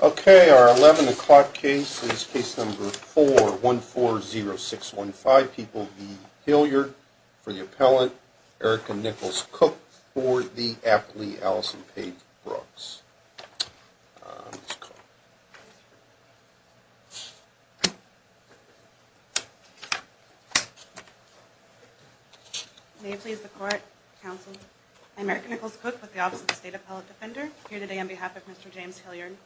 Okay, our 11 o'clock case is case number 4140615. People v. Hilliard for the appellant, Erica Nichols Cook for the athlete, Allison Paige Brooks. May it please the Court, Counsel, I'm Erica Nichols Cook with the Office of the State Appellate Defender here today on behalf of Mr. James Hilliard.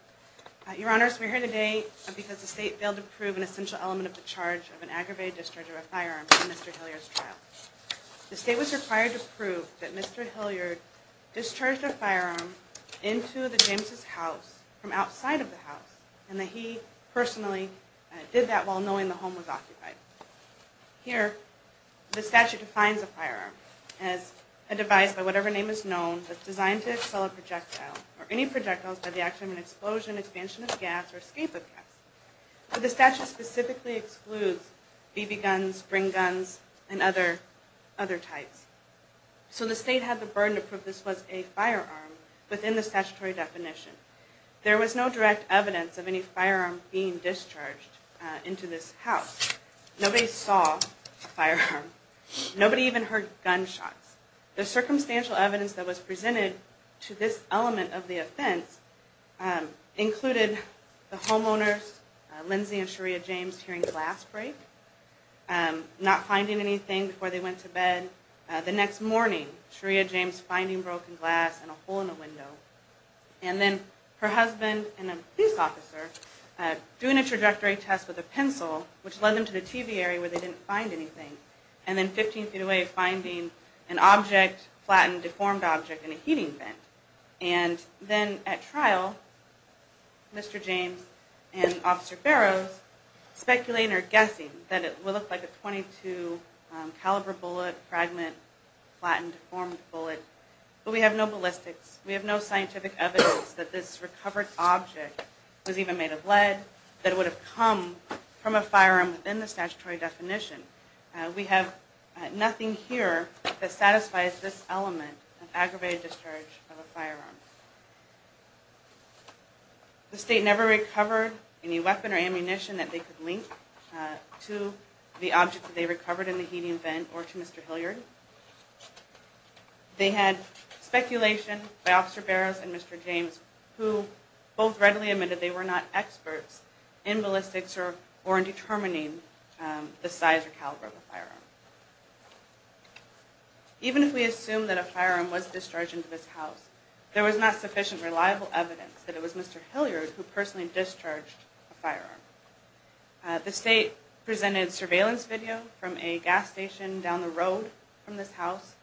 Your Honors, we're here today because the State failed to prove an essential element of the charge of an aggravated discharge of a firearm in Mr. Hilliard's trial. The State was required to prove that Mr. Hilliard discharged a firearm into the James' house from outside of the house and that he personally did that while knowing the home was occupied. Here, the statute defines a firearm as a device by whatever name is known that's designed to expel a projectile or any projectiles by the action of an explosion, expansion of gas, or escape of gas. The statute specifically excludes BB guns, spring guns, and other types. So the State had the burden to prove this was a firearm within the statutory definition. There was no direct evidence of any firearm being discharged into this house. Nobody saw a firearm. Nobody even heard gunshots. The circumstantial evidence that was presented to this element of the offense included the homeowners, Lindsay and Sharia James, hearing glass break, not finding anything before they went to bed. The next morning, Sharia James finding broken glass and a hole in the window. And then her husband and a police officer doing a trajectory test with a pencil, which led them to the TV area where they didn't find anything. And then 15 feet away, finding an object, flattened, deformed object in a heating vent. And then at trial, Mr. James and Officer Barrows speculating or guessing that it would look like a .22 caliber bullet, fragment, flattened, deformed bullet. But we have no ballistics. We have no scientific evidence that this recovered object was even made of lead, that it would have come from a firearm within the statutory definition. We have nothing here that satisfies this element of aggravated discharge of a firearm. The state never recovered any weapon or ammunition that they could link to the object that they recovered in the heating vent or to Mr. Hilliard. They had speculation by Officer Barrows and Mr. James who both readily admitted they were not experts in ballistics or in determining the size or caliber of a firearm. Even if we assume that a firearm was discharged into this house, there was not sufficient reliable evidence that it was Mr. Hilliard who personally discharged a firearm. The state presented surveillance video from a gas station down the road from this house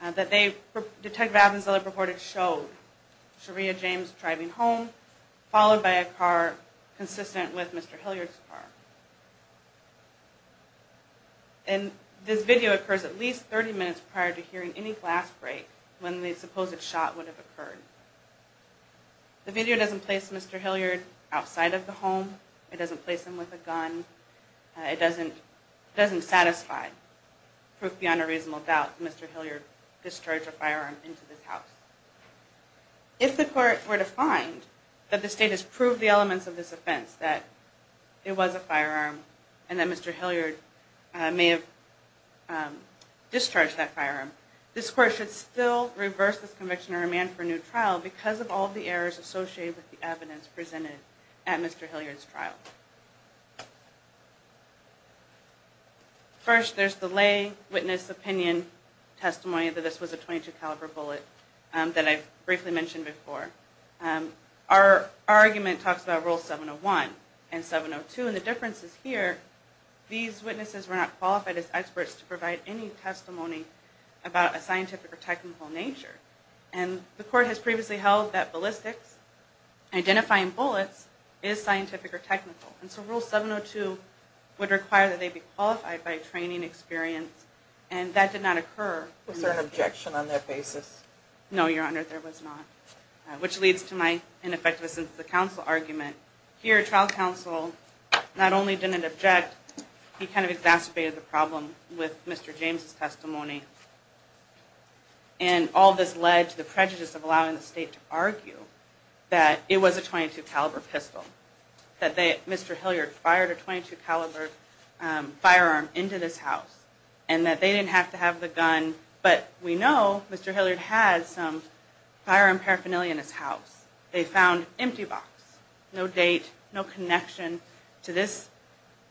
that they, Detective Avanzella reported, showed. Sharia James driving home, followed by a car consistent with Mr. Hilliard's car. And this video occurs at least 30 minutes prior to hearing any glass break when the supposed shot would have occurred. The video doesn't place Mr. Hilliard outside of the home. It doesn't place him with a gun. It doesn't satisfy proof beyond a reasonable doubt that Mr. Hilliard discharged a firearm into this house. If the court were to find that the state has proved the elements of this offense, that it was a firearm and that Mr. Hilliard may have discharged that firearm, this court should still reverse this conviction and remand for a new trial because of all the errors associated with the evidence presented at Mr. Hilliard's trial. First, there's the lay witness opinion testimony that this was a .22 caliber bullet that I briefly mentioned before. Our argument talks about Rule 701 and 702 and the difference is here, these witnesses were not qualified as experts to provide any testimony about a scientific or technical nature. And the court has previously held that ballistics, identifying bullets, is scientific or technical. And so Rule 702 would require that they be qualified by training experience and that did not occur. Was there an objection on that basis? No, Your Honor, there was not. Which leads to my ineffectiveness in the counsel argument. Here, trial counsel not only didn't object, he kind of exacerbated the problem with Mr. James' testimony. And all this led to the prejudice of allowing the state to argue that it was a .22 caliber pistol. That Mr. Hilliard fired a .22 caliber firearm into this house and that they didn't have to have the gun. But we know Mr. Hilliard had some firearm paraphernalia in his house. They found an empty box. No date, no connection to this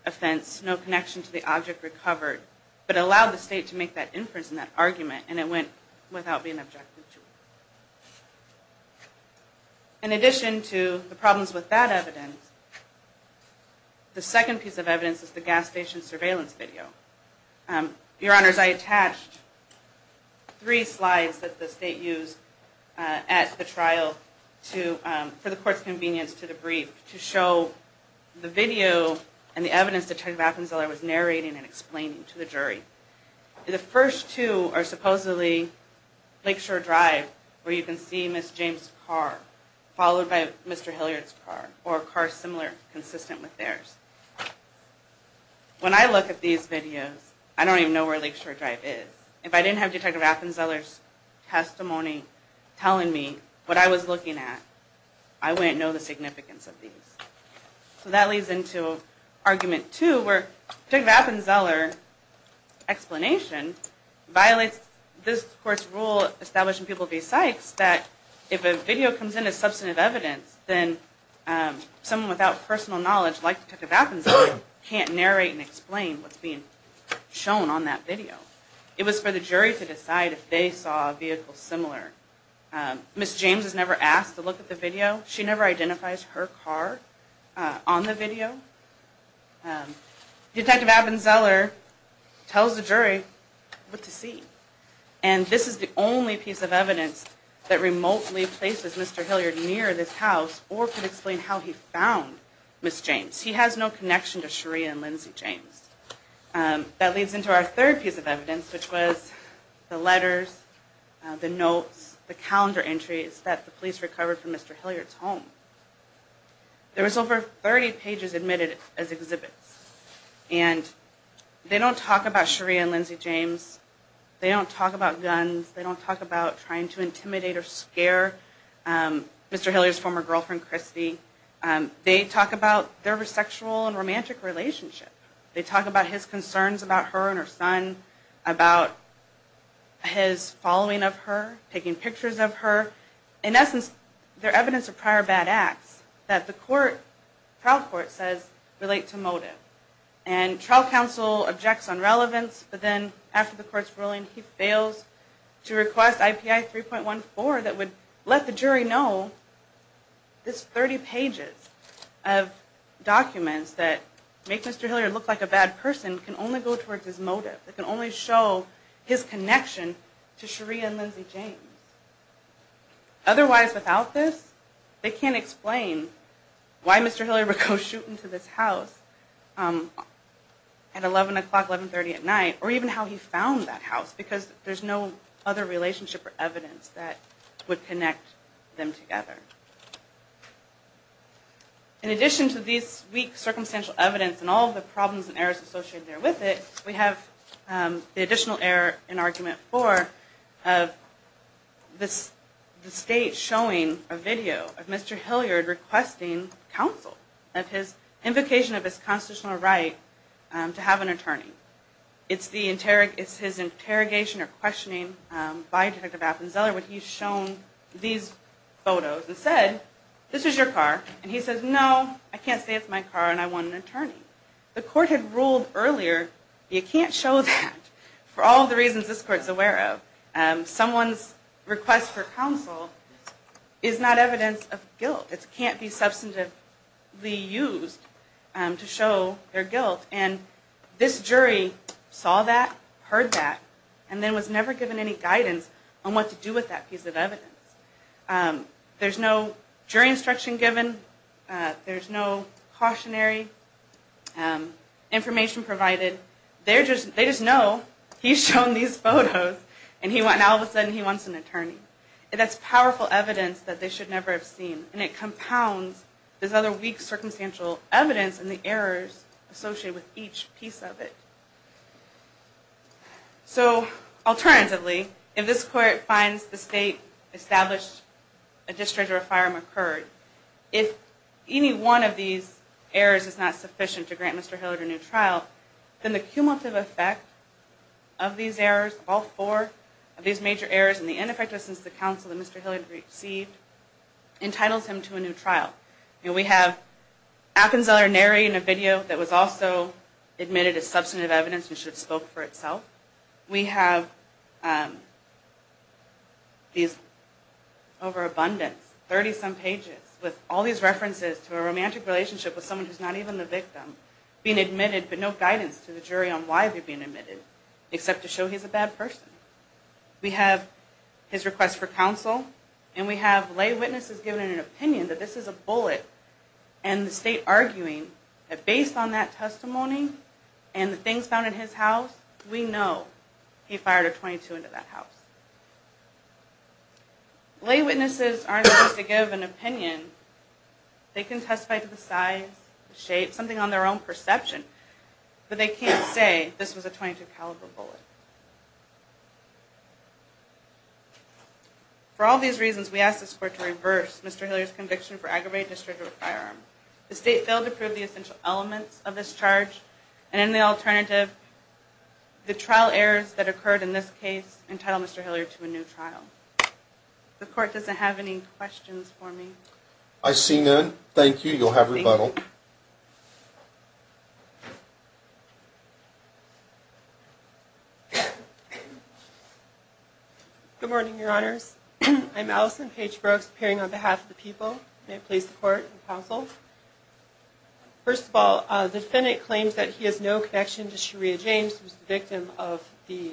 offense, no connection to the object recovered. But it allowed the state to make that inference in that argument and it went without being objected to. In addition to the problems with that evidence, the second piece of evidence is the gas station surveillance video. Your Honors, I attached three slides that the state used at the trial for the court's convenience to the brief to show the video and the evidence that Detective Appenzeller was narrating and explaining to the jury. The first two are supposedly Lakeshore Drive where you can see Ms. James' car followed by Mr. Hilliard's car or a car similar, consistent with theirs. When I look at these videos, I don't even know where Lakeshore Drive is. If I didn't have Detective Appenzeller's testimony telling me what I was looking at, I wouldn't know the significance of these. So that leads into argument two where Detective Appenzeller's explanation violates this court's rule establishing people that if a video comes in as substantive evidence, then someone without personal knowledge like Detective Appenzeller can't narrate and explain what's being shown on that video. It was for the jury to decide if they saw a vehicle similar. Ms. James is never asked to look at the video. She never identifies her car on the video. Detective Appenzeller tells the jury what to see. And this is the only piece of evidence that remotely places Mr. Hilliard near this house or can explain how he found Ms. James. He has no connection to Sharia and Lindsay James. That leads into our third piece of evidence which was the letters, the notes, the calendar entries that the police recovered from Mr. Hilliard's home. There was over 30 pages admitted as exhibits. And they don't talk about Sharia and Lindsay James. They don't talk about guns. They don't talk about trying to intimidate or scare Mr. Hilliard's former girlfriend, Christy. They talk about their sexual and romantic relationship. They talk about his concerns about her and her son, about his following of her, taking pictures of her. In essence, they're evidence of prior bad acts that the trial court says relate to motive. And trial counsel objects on relevance, but then after the court's ruling, he fails to request IPI 3.14 that would let the jury know this 30 pages of documents that make Mr. Hilliard look like a bad person can only go towards his motive, that can only show his connection to Sharia and Lindsay James. Otherwise, without this, they can't explain why Mr. Hilliard would go shooting to this house at 11 o'clock, 1130 at night, or even how he found that house because there's no other relationship or evidence that would connect them together. In addition to this weak circumstantial evidence and all the problems and errors associated with it, we have the additional error in argument four of the state showing a video of Mr. Hilliard requesting counsel of his invocation of his constitutional right to have an attorney. It's his interrogation or questioning by Detective Appenzeller when he's shown these photos and said, this is your car, and he says, no, I can't say it's my car and I want an attorney. The court had ruled earlier you can't show that for all the reasons this court's aware of. Someone's request for counsel is not evidence of guilt. It can't be substantively used to show their guilt. And this jury saw that, heard that, and then was never given any guidance on what to do with that piece of evidence. There's no jury instruction given. There's no cautionary information provided. They just know he's shown these photos and all of a sudden he wants an attorney. And that's powerful evidence that they should never have seen. And it compounds this other weak circumstantial evidence and the errors associated with each piece of it. So alternatively, if this court finds the state established a district or a firearm occurred, if any one of these errors is not sufficient to grant Mr. Hilliard a new trial, then the cumulative effect of these errors, all four of these major errors, and the ineffectiveness of the counsel that Mr. Hilliard received, entitles him to a new trial. And we have Akinzeller narrating a video that was also admitted as substantive evidence and should have spoke for itself. We have these overabundance, 30-some pages, with all these references to a romantic relationship with someone who's not even the victim being admitted, but no guidance to the jury on why they're being admitted, except to show he's a bad person. We have his request for counsel, and we have lay witnesses giving an opinion that this is a bullet, and the state arguing that based on that testimony and the things found in his house, we know he fired a .22 into that house. Lay witnesses aren't supposed to give an opinion. They can testify to the size, the shape, something on their own perception, but they can't say this was a .22 caliber bullet. For all these reasons, we ask this court to reverse Mr. Hilliard's conviction for aggravated discharge of a firearm. The state failed to prove the essential elements of this charge, and in the alternative, the trial errors that occurred in this case entitle Mr. Hilliard to a new trial. The court doesn't have any questions for me. I see none. Thank you. You'll have rebuttal. Good morning, Your Honors. I'm Allison Paige Brooks, appearing on behalf of the people. May I please support and counsel? First of all, the defendant claims that he has no connection to Sharia James, who's the victim of the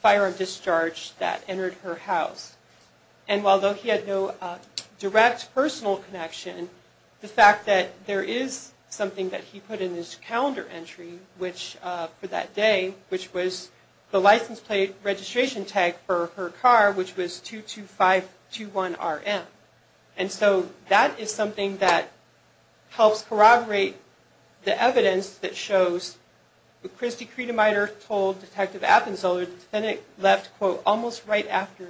firearm discharge that entered her house. the fact that he had no connection to Sharia James The fact that there is something that he put in his calendar entry for that day, which was the license plate registration tag for her car, which was 22521RM. And so that is something that helps corroborate the evidence that shows that Kristi Krietemeyer told Detective Appenzeller, the defendant left, quote, almost right after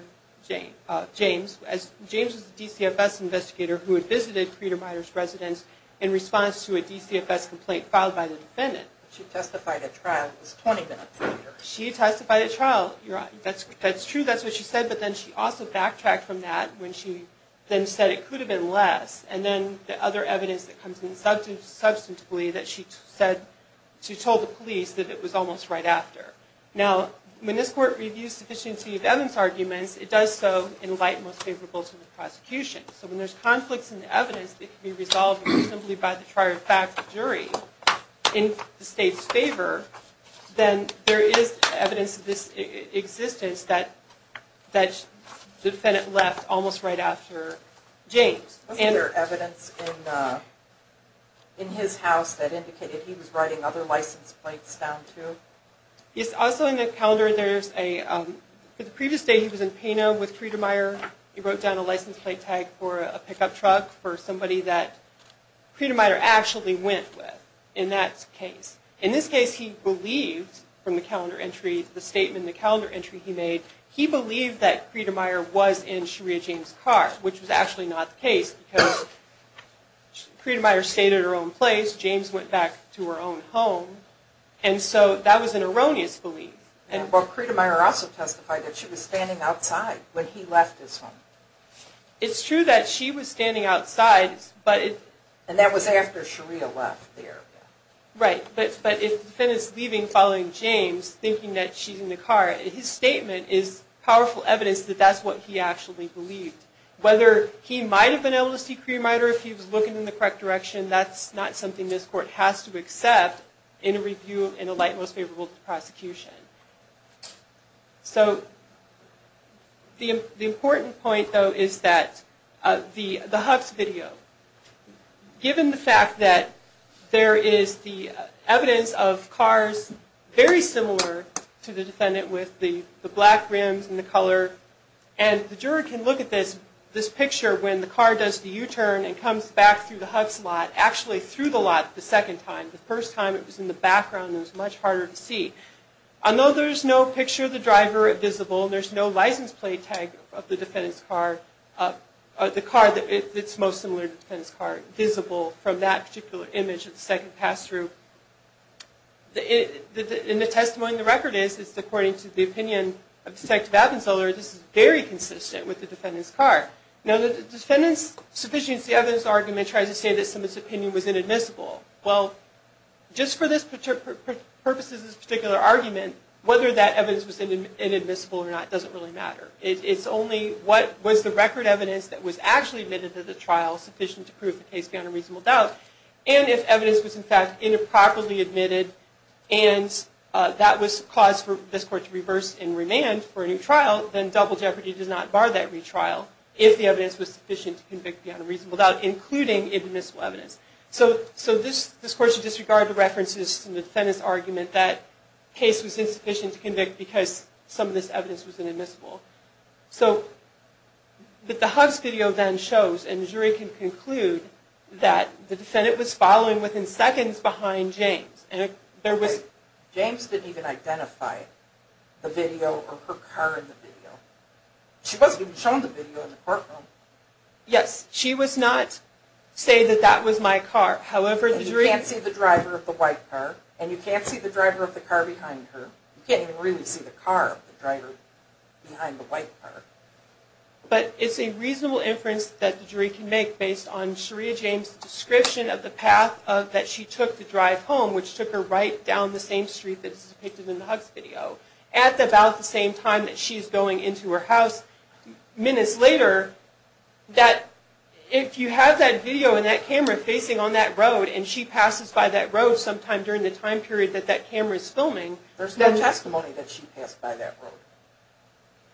James. James was a DCFS investigator who had visited Krietemeyer's residence in response to a DCFS complaint filed by the defendant. She testified at trial. It was 20 minutes later. She testified at trial. That's true. That's what she said. But then she also backtracked from that when she then said it could have been less. And then the other evidence that comes in substantively that she told the police that it was almost right after. Now, when this court reviews sufficient evidence arguments, it does so in light most favorable to the prosecution. So when there's conflicts in the evidence, it can be resolved simply by the prior fact of jury in the state's favor, then there is evidence of this existence that the defendant left almost right after James. Was there evidence in his house that indicated he was writing other license plates down too? Yes. Also in the calendar there's a previous day he was in Pano with Krietemeyer. He wrote down a license plate tag for a pickup truck for somebody that Krietemeyer actually went with in that case. In this case he believed from the calendar entry, the statement in the calendar entry he made, he believed that Krietemeyer was in Sharia James' car, which was actually not the case because Krietemeyer stayed at her own place. James went back to her own home. So that was an erroneous belief. Krietemeyer also testified that she was standing outside when he left his home. It's true that she was standing outside. And that was after Sharia left there. Right. But if the defendant is leaving following James, thinking that she's in the car, his statement is powerful evidence that that's what he actually believed. Whether he might have been able to see Krietemeyer, if he was looking in the correct direction, that's not something this court has to accept in a light, most favorable to the prosecution. So the important point, though, is that the Huffs video, given the fact that there is the evidence of cars very similar to the defendant with the black rims and the color, and the juror can look at this picture when the car does the U-turn and actually through the lot the second time. The first time it was in the background and it was much harder to see. Although there's no picture of the driver visible, there's no license plate tag of the defendant's car, the car that's most similar to the defendant's car, visible from that particular image of the second pass-through. And the testimony in the record is that according to the opinion of Detective Abenzoler, this is very consistent with the defendant's car. Now the defendant's sufficient evidence argument tries to say that the evidence in this opinion was inadmissible. Well, just for the purposes of this particular argument, whether that evidence was inadmissible or not doesn't really matter. It's only what was the record evidence that was actually admitted to the trial sufficient to prove the case beyond a reasonable doubt. And if evidence was in fact improperly admitted and that was cause for this court to reverse and remand for a new trial, then double jeopardy does not bar that retrial if the evidence was inadmissible. So this court should disregard the references to the defendant's argument that the case was insufficient to convict because some of this evidence was inadmissible. But the Huggs video then shows, and the jury can conclude, that the defendant was following within seconds behind James. James didn't even identify the video or her car in the video. She wasn't even shown the video in the courtroom. Yes, she was not saying that that was my car. You can't see the driver of the white car, and you can't see the driver of the car behind her. You can't even really see the car of the driver behind the white car. But it's a reasonable inference that the jury can make based on Sharia James' description of the path that she took to drive home, which took her right down the same street that's depicted in the Huggs video, at about the same time that she's going into her house. Minutes later, if you have that video and that camera facing on that road and she passes by that road sometime during the time period that that camera is filming... There's no testimony that she passed by that road.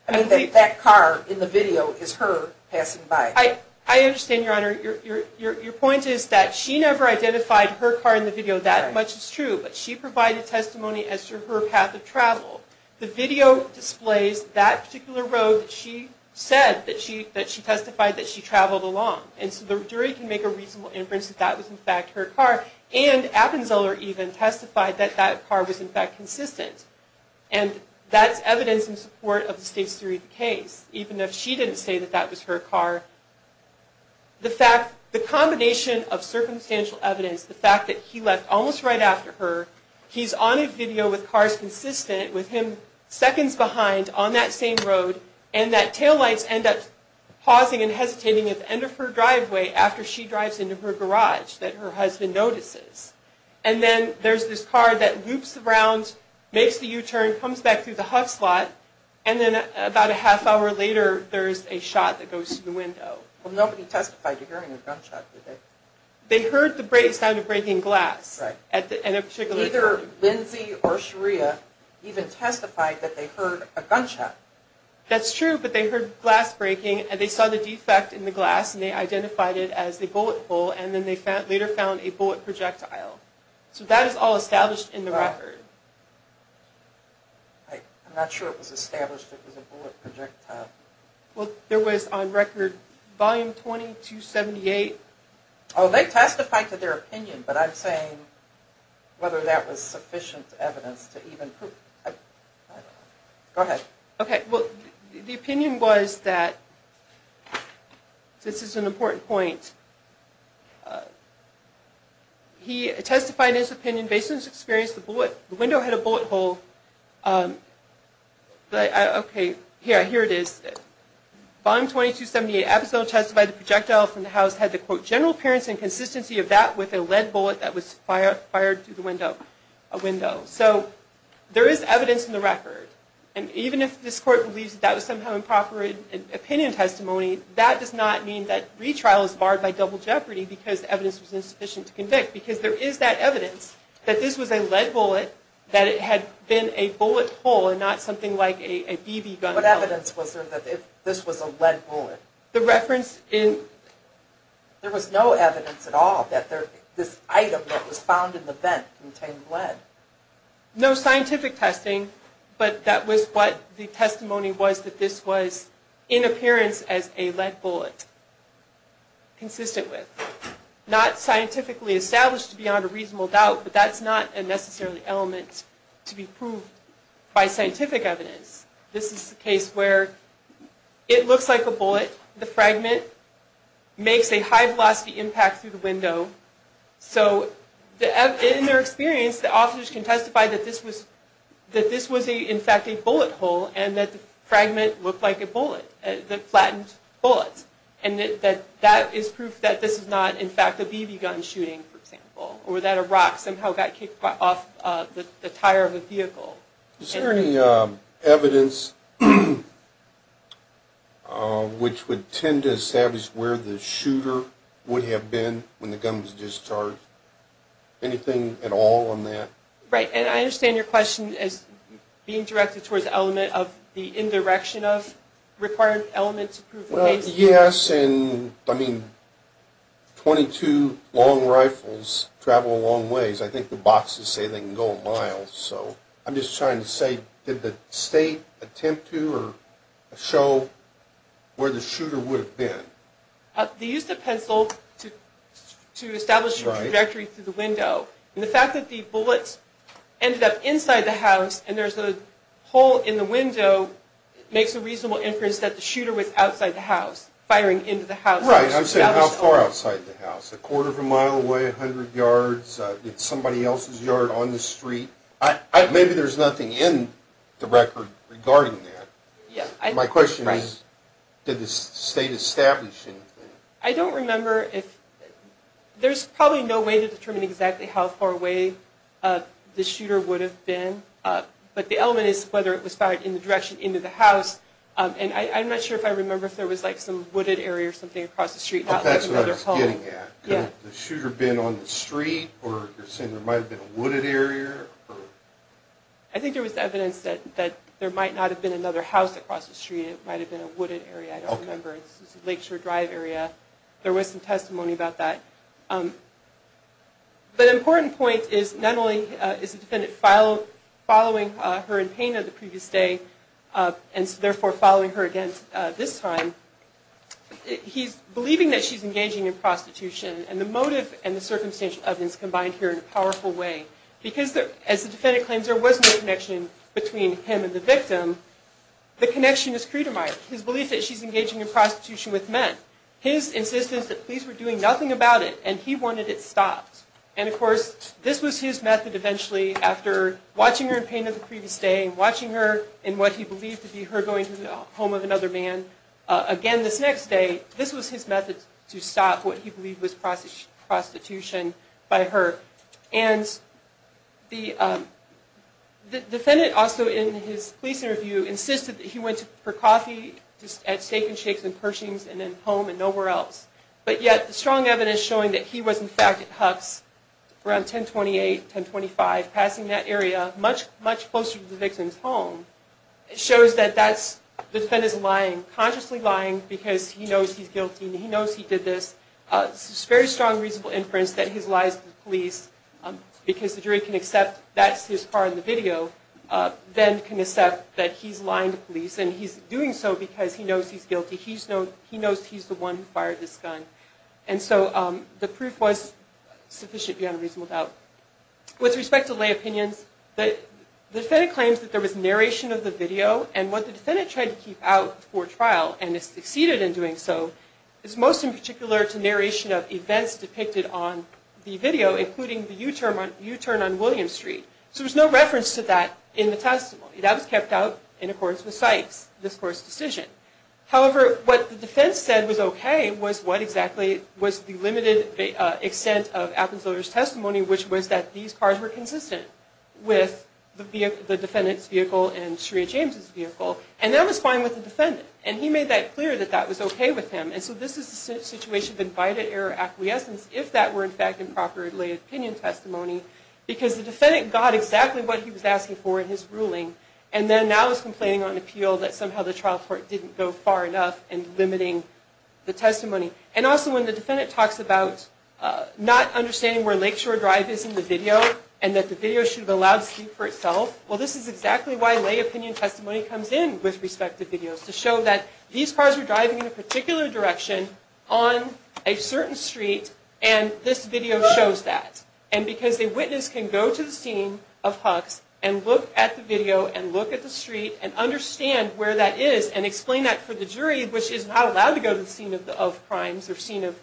I mean, that car in the video is her passing by. I understand, Your Honor. Your point is that she never identified her car in the video. But she provided testimony as to her path of travel. The video displays that particular road that she said that she testified that she traveled along. And so the jury can make a reasonable inference that that was, in fact, her car. And Appenzeller even testified that that car was, in fact, consistent. And that's evidence in support of the State's theory of the case, even if she didn't say that that was her car. The fact... The combination of circumstantial evidence, the fact that he left almost right after her, he's on a video with cars consistent with him seconds behind on that same road, and that taillights end up pausing and hesitating at the end of her driveway after she drives into her garage that her husband notices. And then there's this car that loops around, makes the U-turn, comes back through the huff slot, and then about a half hour later there's a shot that goes to the window. Well, nobody testified to hearing a gunshot, did they? They heard the sound of breaking glass. Right. Neither Lindsey or Sharia even testified that they heard a gunshot. That's true, but they heard glass breaking, and they saw the defect in the glass, and they identified it as a bullet hole, and then they later found a bullet projectile. So that is all established in the record. I'm not sure it was established it was a bullet projectile. Well, there was on record Volume 2278. Oh, they testified to their opinion, but I'm saying whether that was sufficient evidence to even prove it. Go ahead. Okay. Well, the opinion was that this is an important point. He testified in his opinion based on his experience the window had a bullet hole. Okay, here it is. Volume 2278 episode testified the projectile from the house had the quote general appearance and consistency of that with a lead bullet that was fired through the window. So there is evidence in the record, and even if this court believes that was somehow improper opinion testimony, that does not mean that retrial is barred by double jeopardy because the evidence was insufficient to convict, because there is that evidence that this was a lead bullet, that it had been a bullet hole and not something like a BB gun. What evidence was there that this was a lead bullet? There was no evidence at all that this item that was found in the vent contained lead. No scientific testing, but that was what the testimony was that this was in appearance as a lead bullet, consistent with. Not scientifically established beyond a reasonable doubt, but that's not a necessary element to be proved by scientific evidence. This is the case where it looks like a bullet, the fragment makes a high velocity impact through the window. So in their experience, the officers can testify that this was in fact a bullet hole and that the fragment looked like a bullet, the flattened bullet, and that is proof that this is not in fact a BB gun shooting, for example, or that a rock somehow got kicked off the tire of a vehicle. Is there any evidence which would tend to establish where the shooter would have been when the gun was discharged? Anything at all on that? Right. And I understand your question as being directed towards the element of the indirection of required element to prove the case. Yes. I mean, 22 long rifles travel a long ways. I think the boxes say they can go a mile. So I'm just trying to say, did the state attempt to or show where the shooter would have been? They used a pencil to establish a trajectory through the window. And the fact that the bullet ended up inside the house and there's a hole in the window makes a reasonable inference that the shooter was outside the house, firing into the house. Right. I'm saying how far outside the house. A quarter of a mile away, 100 yards. Did somebody else's yard on the street? Maybe there's nothing in the record regarding that. My question is, did the state establish anything? I don't remember. There's probably no way to determine exactly how far away the shooter would have been. But the element is whether it was fired in the direction into the house. And I'm not sure if I remember if there was like some wooded area or something across the street. That's what I was getting at. Could the shooter have been on the street? Or you're saying there might have been a wooded area? I think there was evidence that there might not have been another house across the street. It might have been a wooded area. I don't remember. It's a Lakeshore Drive area. There was some testimony about that. But an important point is not only is the defendant following her in pain on the previous day and therefore following her again this time, he's believing that she's engaging in prostitution. And the motive and the circumstantial evidence combine here in a powerful way. Because as the defendant claims, there was no connection between him and the victim, the connection is Creedermyer. His belief that she's engaging in prostitution with men. His insistence that police were doing nothing about it and he wanted it stopped. And of course, this was his method eventually after watching her in pain on the previous day and watching her in what he believed to be her going to the home of another man. Again, this next day, this was his method to stop what he believed was prostitution by her. And the defendant also in his police interview insisted that he went for coffee at Steak and Shakes in Pershings and then home and nowhere else. But yet, the strong evidence showing that he was in fact at Huck's around 1028, 1025, passing that area, much closer to the victim's home, shows that the defendant is lying, consciously lying because he knows he's guilty and he knows he did this. It's a very strong reasonable inference that his lies to the police, because the jury can accept that's his part in the video, then can accept that he's lying to police and he's doing so because he knows he's guilty. He knows he's the one who fired this gun. And so the proof was sufficient beyond a reasonable doubt. With respect to lay opinions, the defendant claims that there was narration of the video and what the defendant tried to keep out for trial and has succeeded in doing so is most in particular to narration of events depicted on the video, including the U-turn on Williams Street. So there's no reference to that in the testimony. That was kept out in accordance with Sykes' discourse decision. However, what the defense said was okay was what exactly was the limited extent of Appen's lawyer's testimony, which was that these cars were consistent with the defendant's vehicle and Sharia James' vehicle. And that was fine with the defendant. And he made that clear that that was okay with him. And so this is a situation of invited error acquiescence, if that were in fact improperly lay opinion testimony, because the defendant got exactly what he was asking for in his ruling and then now is complaining on appeal that somehow the trial court didn't go far enough in limiting the testimony. And also when the defendant talks about not understanding where Lakeshore Drive is in the video and that the video should have been allowed to speak for itself, well this is exactly why lay opinion testimony comes in with respect to videos, to show that these cars were driving in a particular direction on a certain street and this video shows that. And because a witness can go to the scene of Huck's and look at the video and look at the street and understand where that is and explain that for the jury, which is not allowed to go to the scene of crimes or scene of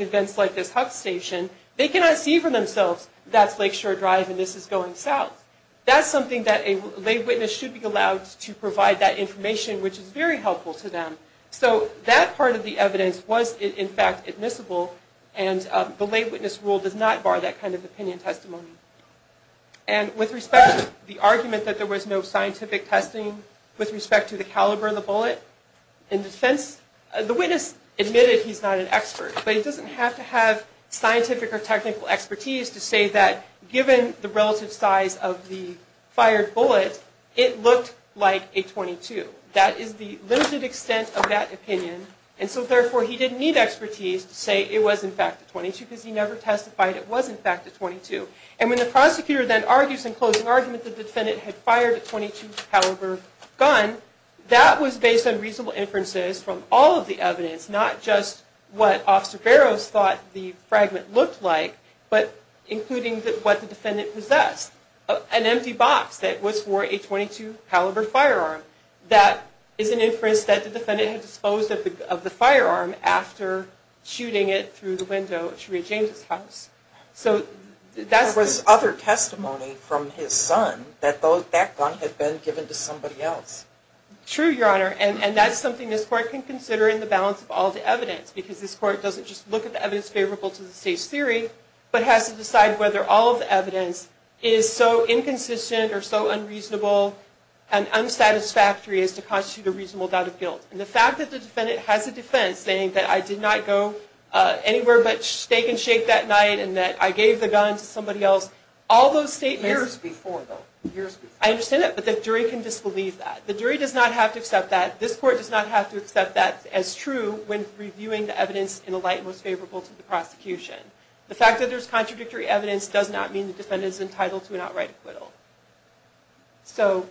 events like this Huck station, they cannot see for themselves that's Lakeshore Drive and this is going south. That's something that a lay witness should be allowed to provide that information, which is very helpful to them. So that part of the evidence was in fact admissible and the lay witness rule does not bar that kind of opinion testimony. And with respect to the argument that there was no scientific testing, with respect to the caliber of the bullet in defense, the witness admitted he's not an expert, but he doesn't have to have scientific or technical expertise to say that given the relative size of the fired bullet, it looked like a .22. That is the limited extent of that opinion and so therefore he didn't need expertise to say it was in fact a .22 because he never testified it was in fact a .22. And when the prosecutor then argues in closing argument that the defendant had fired a .22 caliber gun, that was based on reasonable inferences from all of the evidence, not just what Officer Barrows thought the fragment looked like, but including what the defendant possessed, an empty box that was for a .22 caliber firearm. That is an inference that the defendant had disposed of the firearm after shooting it through the window at Sharia James' house. There was other testimony from his son that that gun had been given to somebody else. True, Your Honor, and that's something this Court can consider in the balance of all the evidence because this Court doesn't just look at the evidence favorable to the State's theory, but has to decide whether all of the evidence is so inconsistent or so unreasonable and unsatisfactory as to constitute a reasonable doubt of guilt. And the fact that the defendant has a defense saying that I did not go anywhere but steak and shake that night and that I gave the gun to somebody else, all those statements... Years before, though. Years before. I understand that, but the jury can disbelieve that. The jury does not have to accept that. This Court does not have to accept that as true when reviewing the evidence in a light most favorable to the prosecution. The fact that there's contradictory evidence does not mean the defendant is entitled to an outright acquittal. So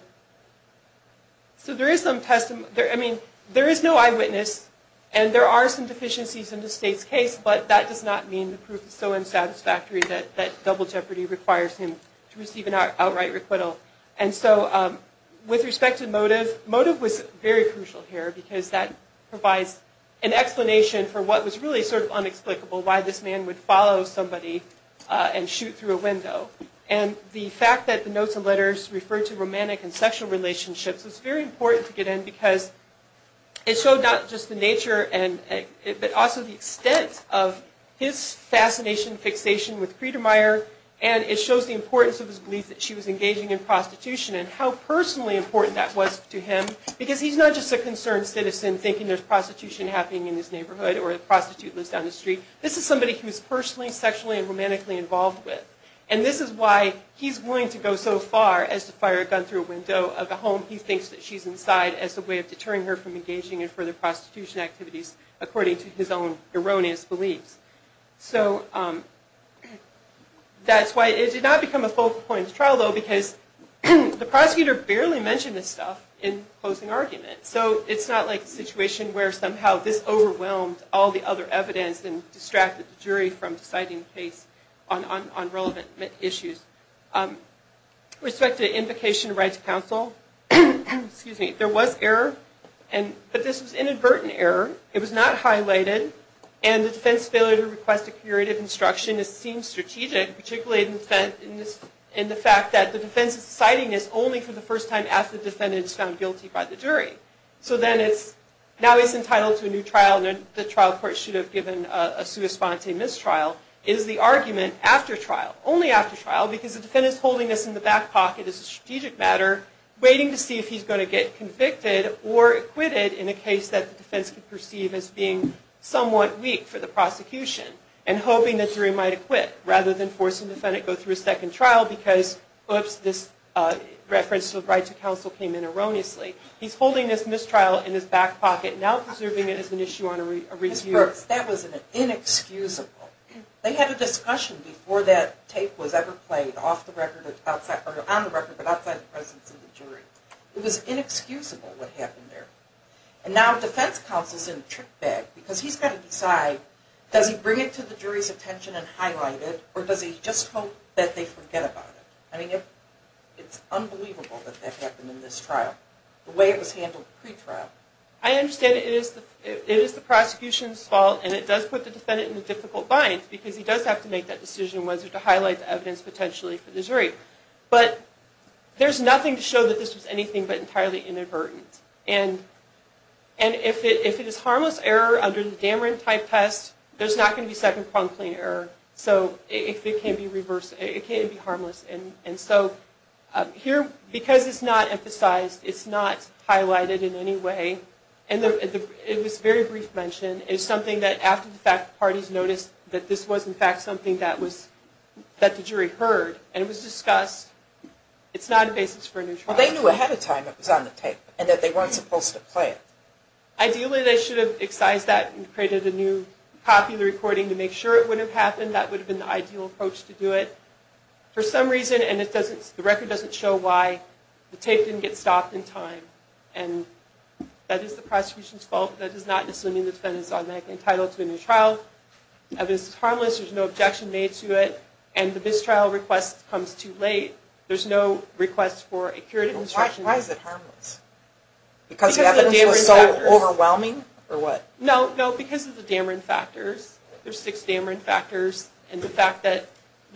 there is some testimony... I mean, there is no eyewitness, and there are some deficiencies in the State's case, but that does not mean the proof is so unsatisfactory that double jeopardy requires him to receive an outright acquittal. And so with respect to motive, motive was very crucial here because that provides an explanation for what was really sort of unexplicable, why this man would follow somebody and shoot through a window. And the fact that the notes and letters referred to romantic and sexual relationships but also the extent of his fascination and fixation with Friedermeier, and it shows the importance of his belief that she was engaging in prostitution and how personally important that was to him because he's not just a concerned citizen thinking there's prostitution happening in his neighborhood or a prostitute lives down the street. This is somebody he was personally, sexually, and romantically involved with. And this is why he's willing to go so far as to fire a gun through a window of a home he thinks that she's inside as a way of deterring her from engaging in further prostitution activities according to his own erroneous beliefs. So that's why it did not become a focal point of the trial, though, because the prosecutor barely mentioned this stuff in the closing argument. So it's not like a situation where somehow this overwhelmed all the other evidence and distracted the jury from deciding the case on relevant issues. With respect to invocation of right to counsel, there was error, but this was inadvertent error. It was not highlighted. And the defense's failure to request a curative instruction seems strategic, particularly in the fact that the defense is citing this only for the first time after the defendant is found guilty by the jury. So now he's entitled to a new trial, and the trial court should have given a sua sponte mistrial. It is the argument after trial, only after trial, because the defendant is holding this in the back pocket as a strategic matter waiting to see if he's going to get convicted or acquitted in a case that the defense could perceive as being somewhat weak for the prosecution and hoping that the jury might acquit, rather than forcing the defendant to go through a second trial because, oops, this reference to the right to counsel came in erroneously. He's holding this mistrial in his back pocket, now preserving it as an issue on a review. Ms. Brooks, that was inexcusable. They had a discussion before that tape was ever played on the record but outside the presence of the jury. It was inexcusable what happened there. And now defense counsel's in a trick bag because he's got to decide, does he bring it to the jury's attention and highlight it, or does he just hope that they forget about it? I mean, it's unbelievable that that happened in this trial, the way it was handled pre-trial. I understand it is the prosecution's fault, and it does put the defendant in a difficult bind because he does have to make that decision whether to highlight the evidence potentially for the jury. But there's nothing to show that this was anything but entirely inadvertent. And if it is harmless error under the Dameron-type test, there's not going to be second-pronged claim error. So it can't be harmless. And so here, because it's not emphasized, it's not highlighted in any way. And this very brief mention is something that, after the fact, the parties noticed that this was, in fact, something that the jury heard, and it was discussed. It's not a basis for a new trial. Well, they knew ahead of time it was on the tape and that they weren't supposed to play it. Ideally, they should have excised that and created a new copy of the recording to make sure it wouldn't have happened. That would have been the ideal approach to do it. For some reason, and the record doesn't show why, the tape didn't get stopped in time. And that is the prosecution's fault. That is not assuming the defendant is automatically entitled to a new trial. If it's harmless, there's no objection made to it, and the mistrial request comes too late. There's no request for a curative instruction. Why is it harmless? Because the evidence was so overwhelming, or what? No, because of the Dameron factors. There's six Dameron factors, and the fact that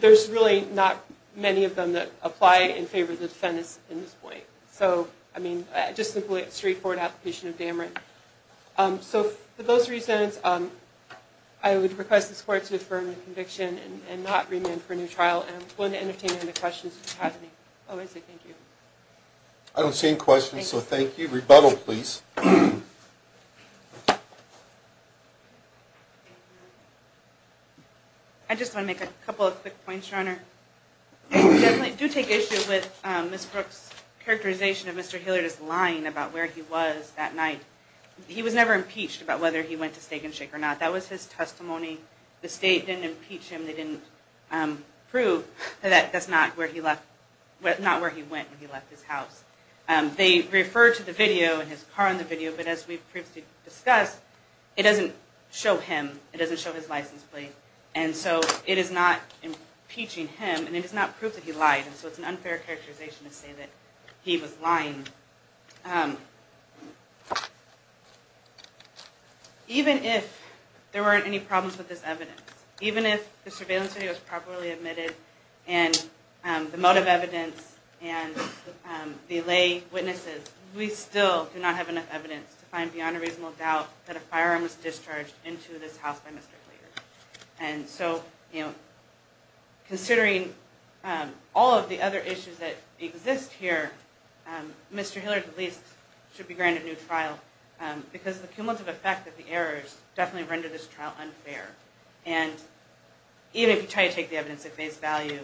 there's really not many of them that apply in favor of the defendant at this point. So, I mean, just a straightforward application of Dameron. So, for those reasons, I would request this court to defer the conviction and not remand for a new trial, and I'm willing to entertain any questions if you have any. Oh, I see. Thank you. I don't see any questions, so thank you. Rebuttal, please. I just want to make a couple of quick points, Your Honor. I definitely do take issue with Ms. Brooks' characterization of Mr. Hilliard as lying about where he was that night. He was never impeached about whether he went to Steak and Shake or not. That was his testimony. The state didn't impeach him. They didn't prove that that's not where he went when he left his house. They referred to the video and his car in the video, but as we previously discussed, it doesn't show him. It doesn't show his license plate. And so it is not impeaching him, and it is not proof that he lied, and so it's an unfair characterization to say that he was lying. Even if there weren't any problems with this evidence, even if the surveillance video was properly admitted and the motive evidence and the lay witnesses, we still do not have enough evidence to find beyond a reasonable doubt that a firearm was discharged into this house by Mr. Hilliard. And so, you know, considering all of the other issues that exist here, Mr. Hilliard at least should be granted new trial because of the cumulative effect that the errors definitely rendered this trial unfair. And even if you try to take the evidence at face value,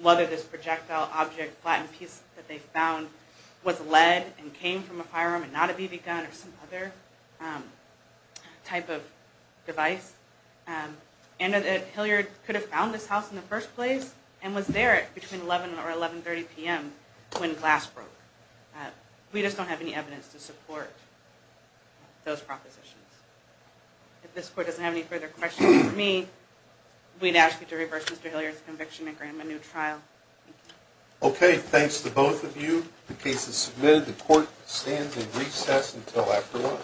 whether this projectile object, flattened piece that they found was lead and came from a firearm and not a BB gun or some other type of device, and that Hilliard could have found this house in the first place and was there between 11 or 11.30 p.m. when glass broke, we just don't have any evidence to support those propositions. If this court doesn't have any further questions for me, we'd ask you to reverse Mr. Hilliard's conviction and grant him a new trial. Okay, thanks to both of you. The case is submitted. The court stands in recess until after lunch.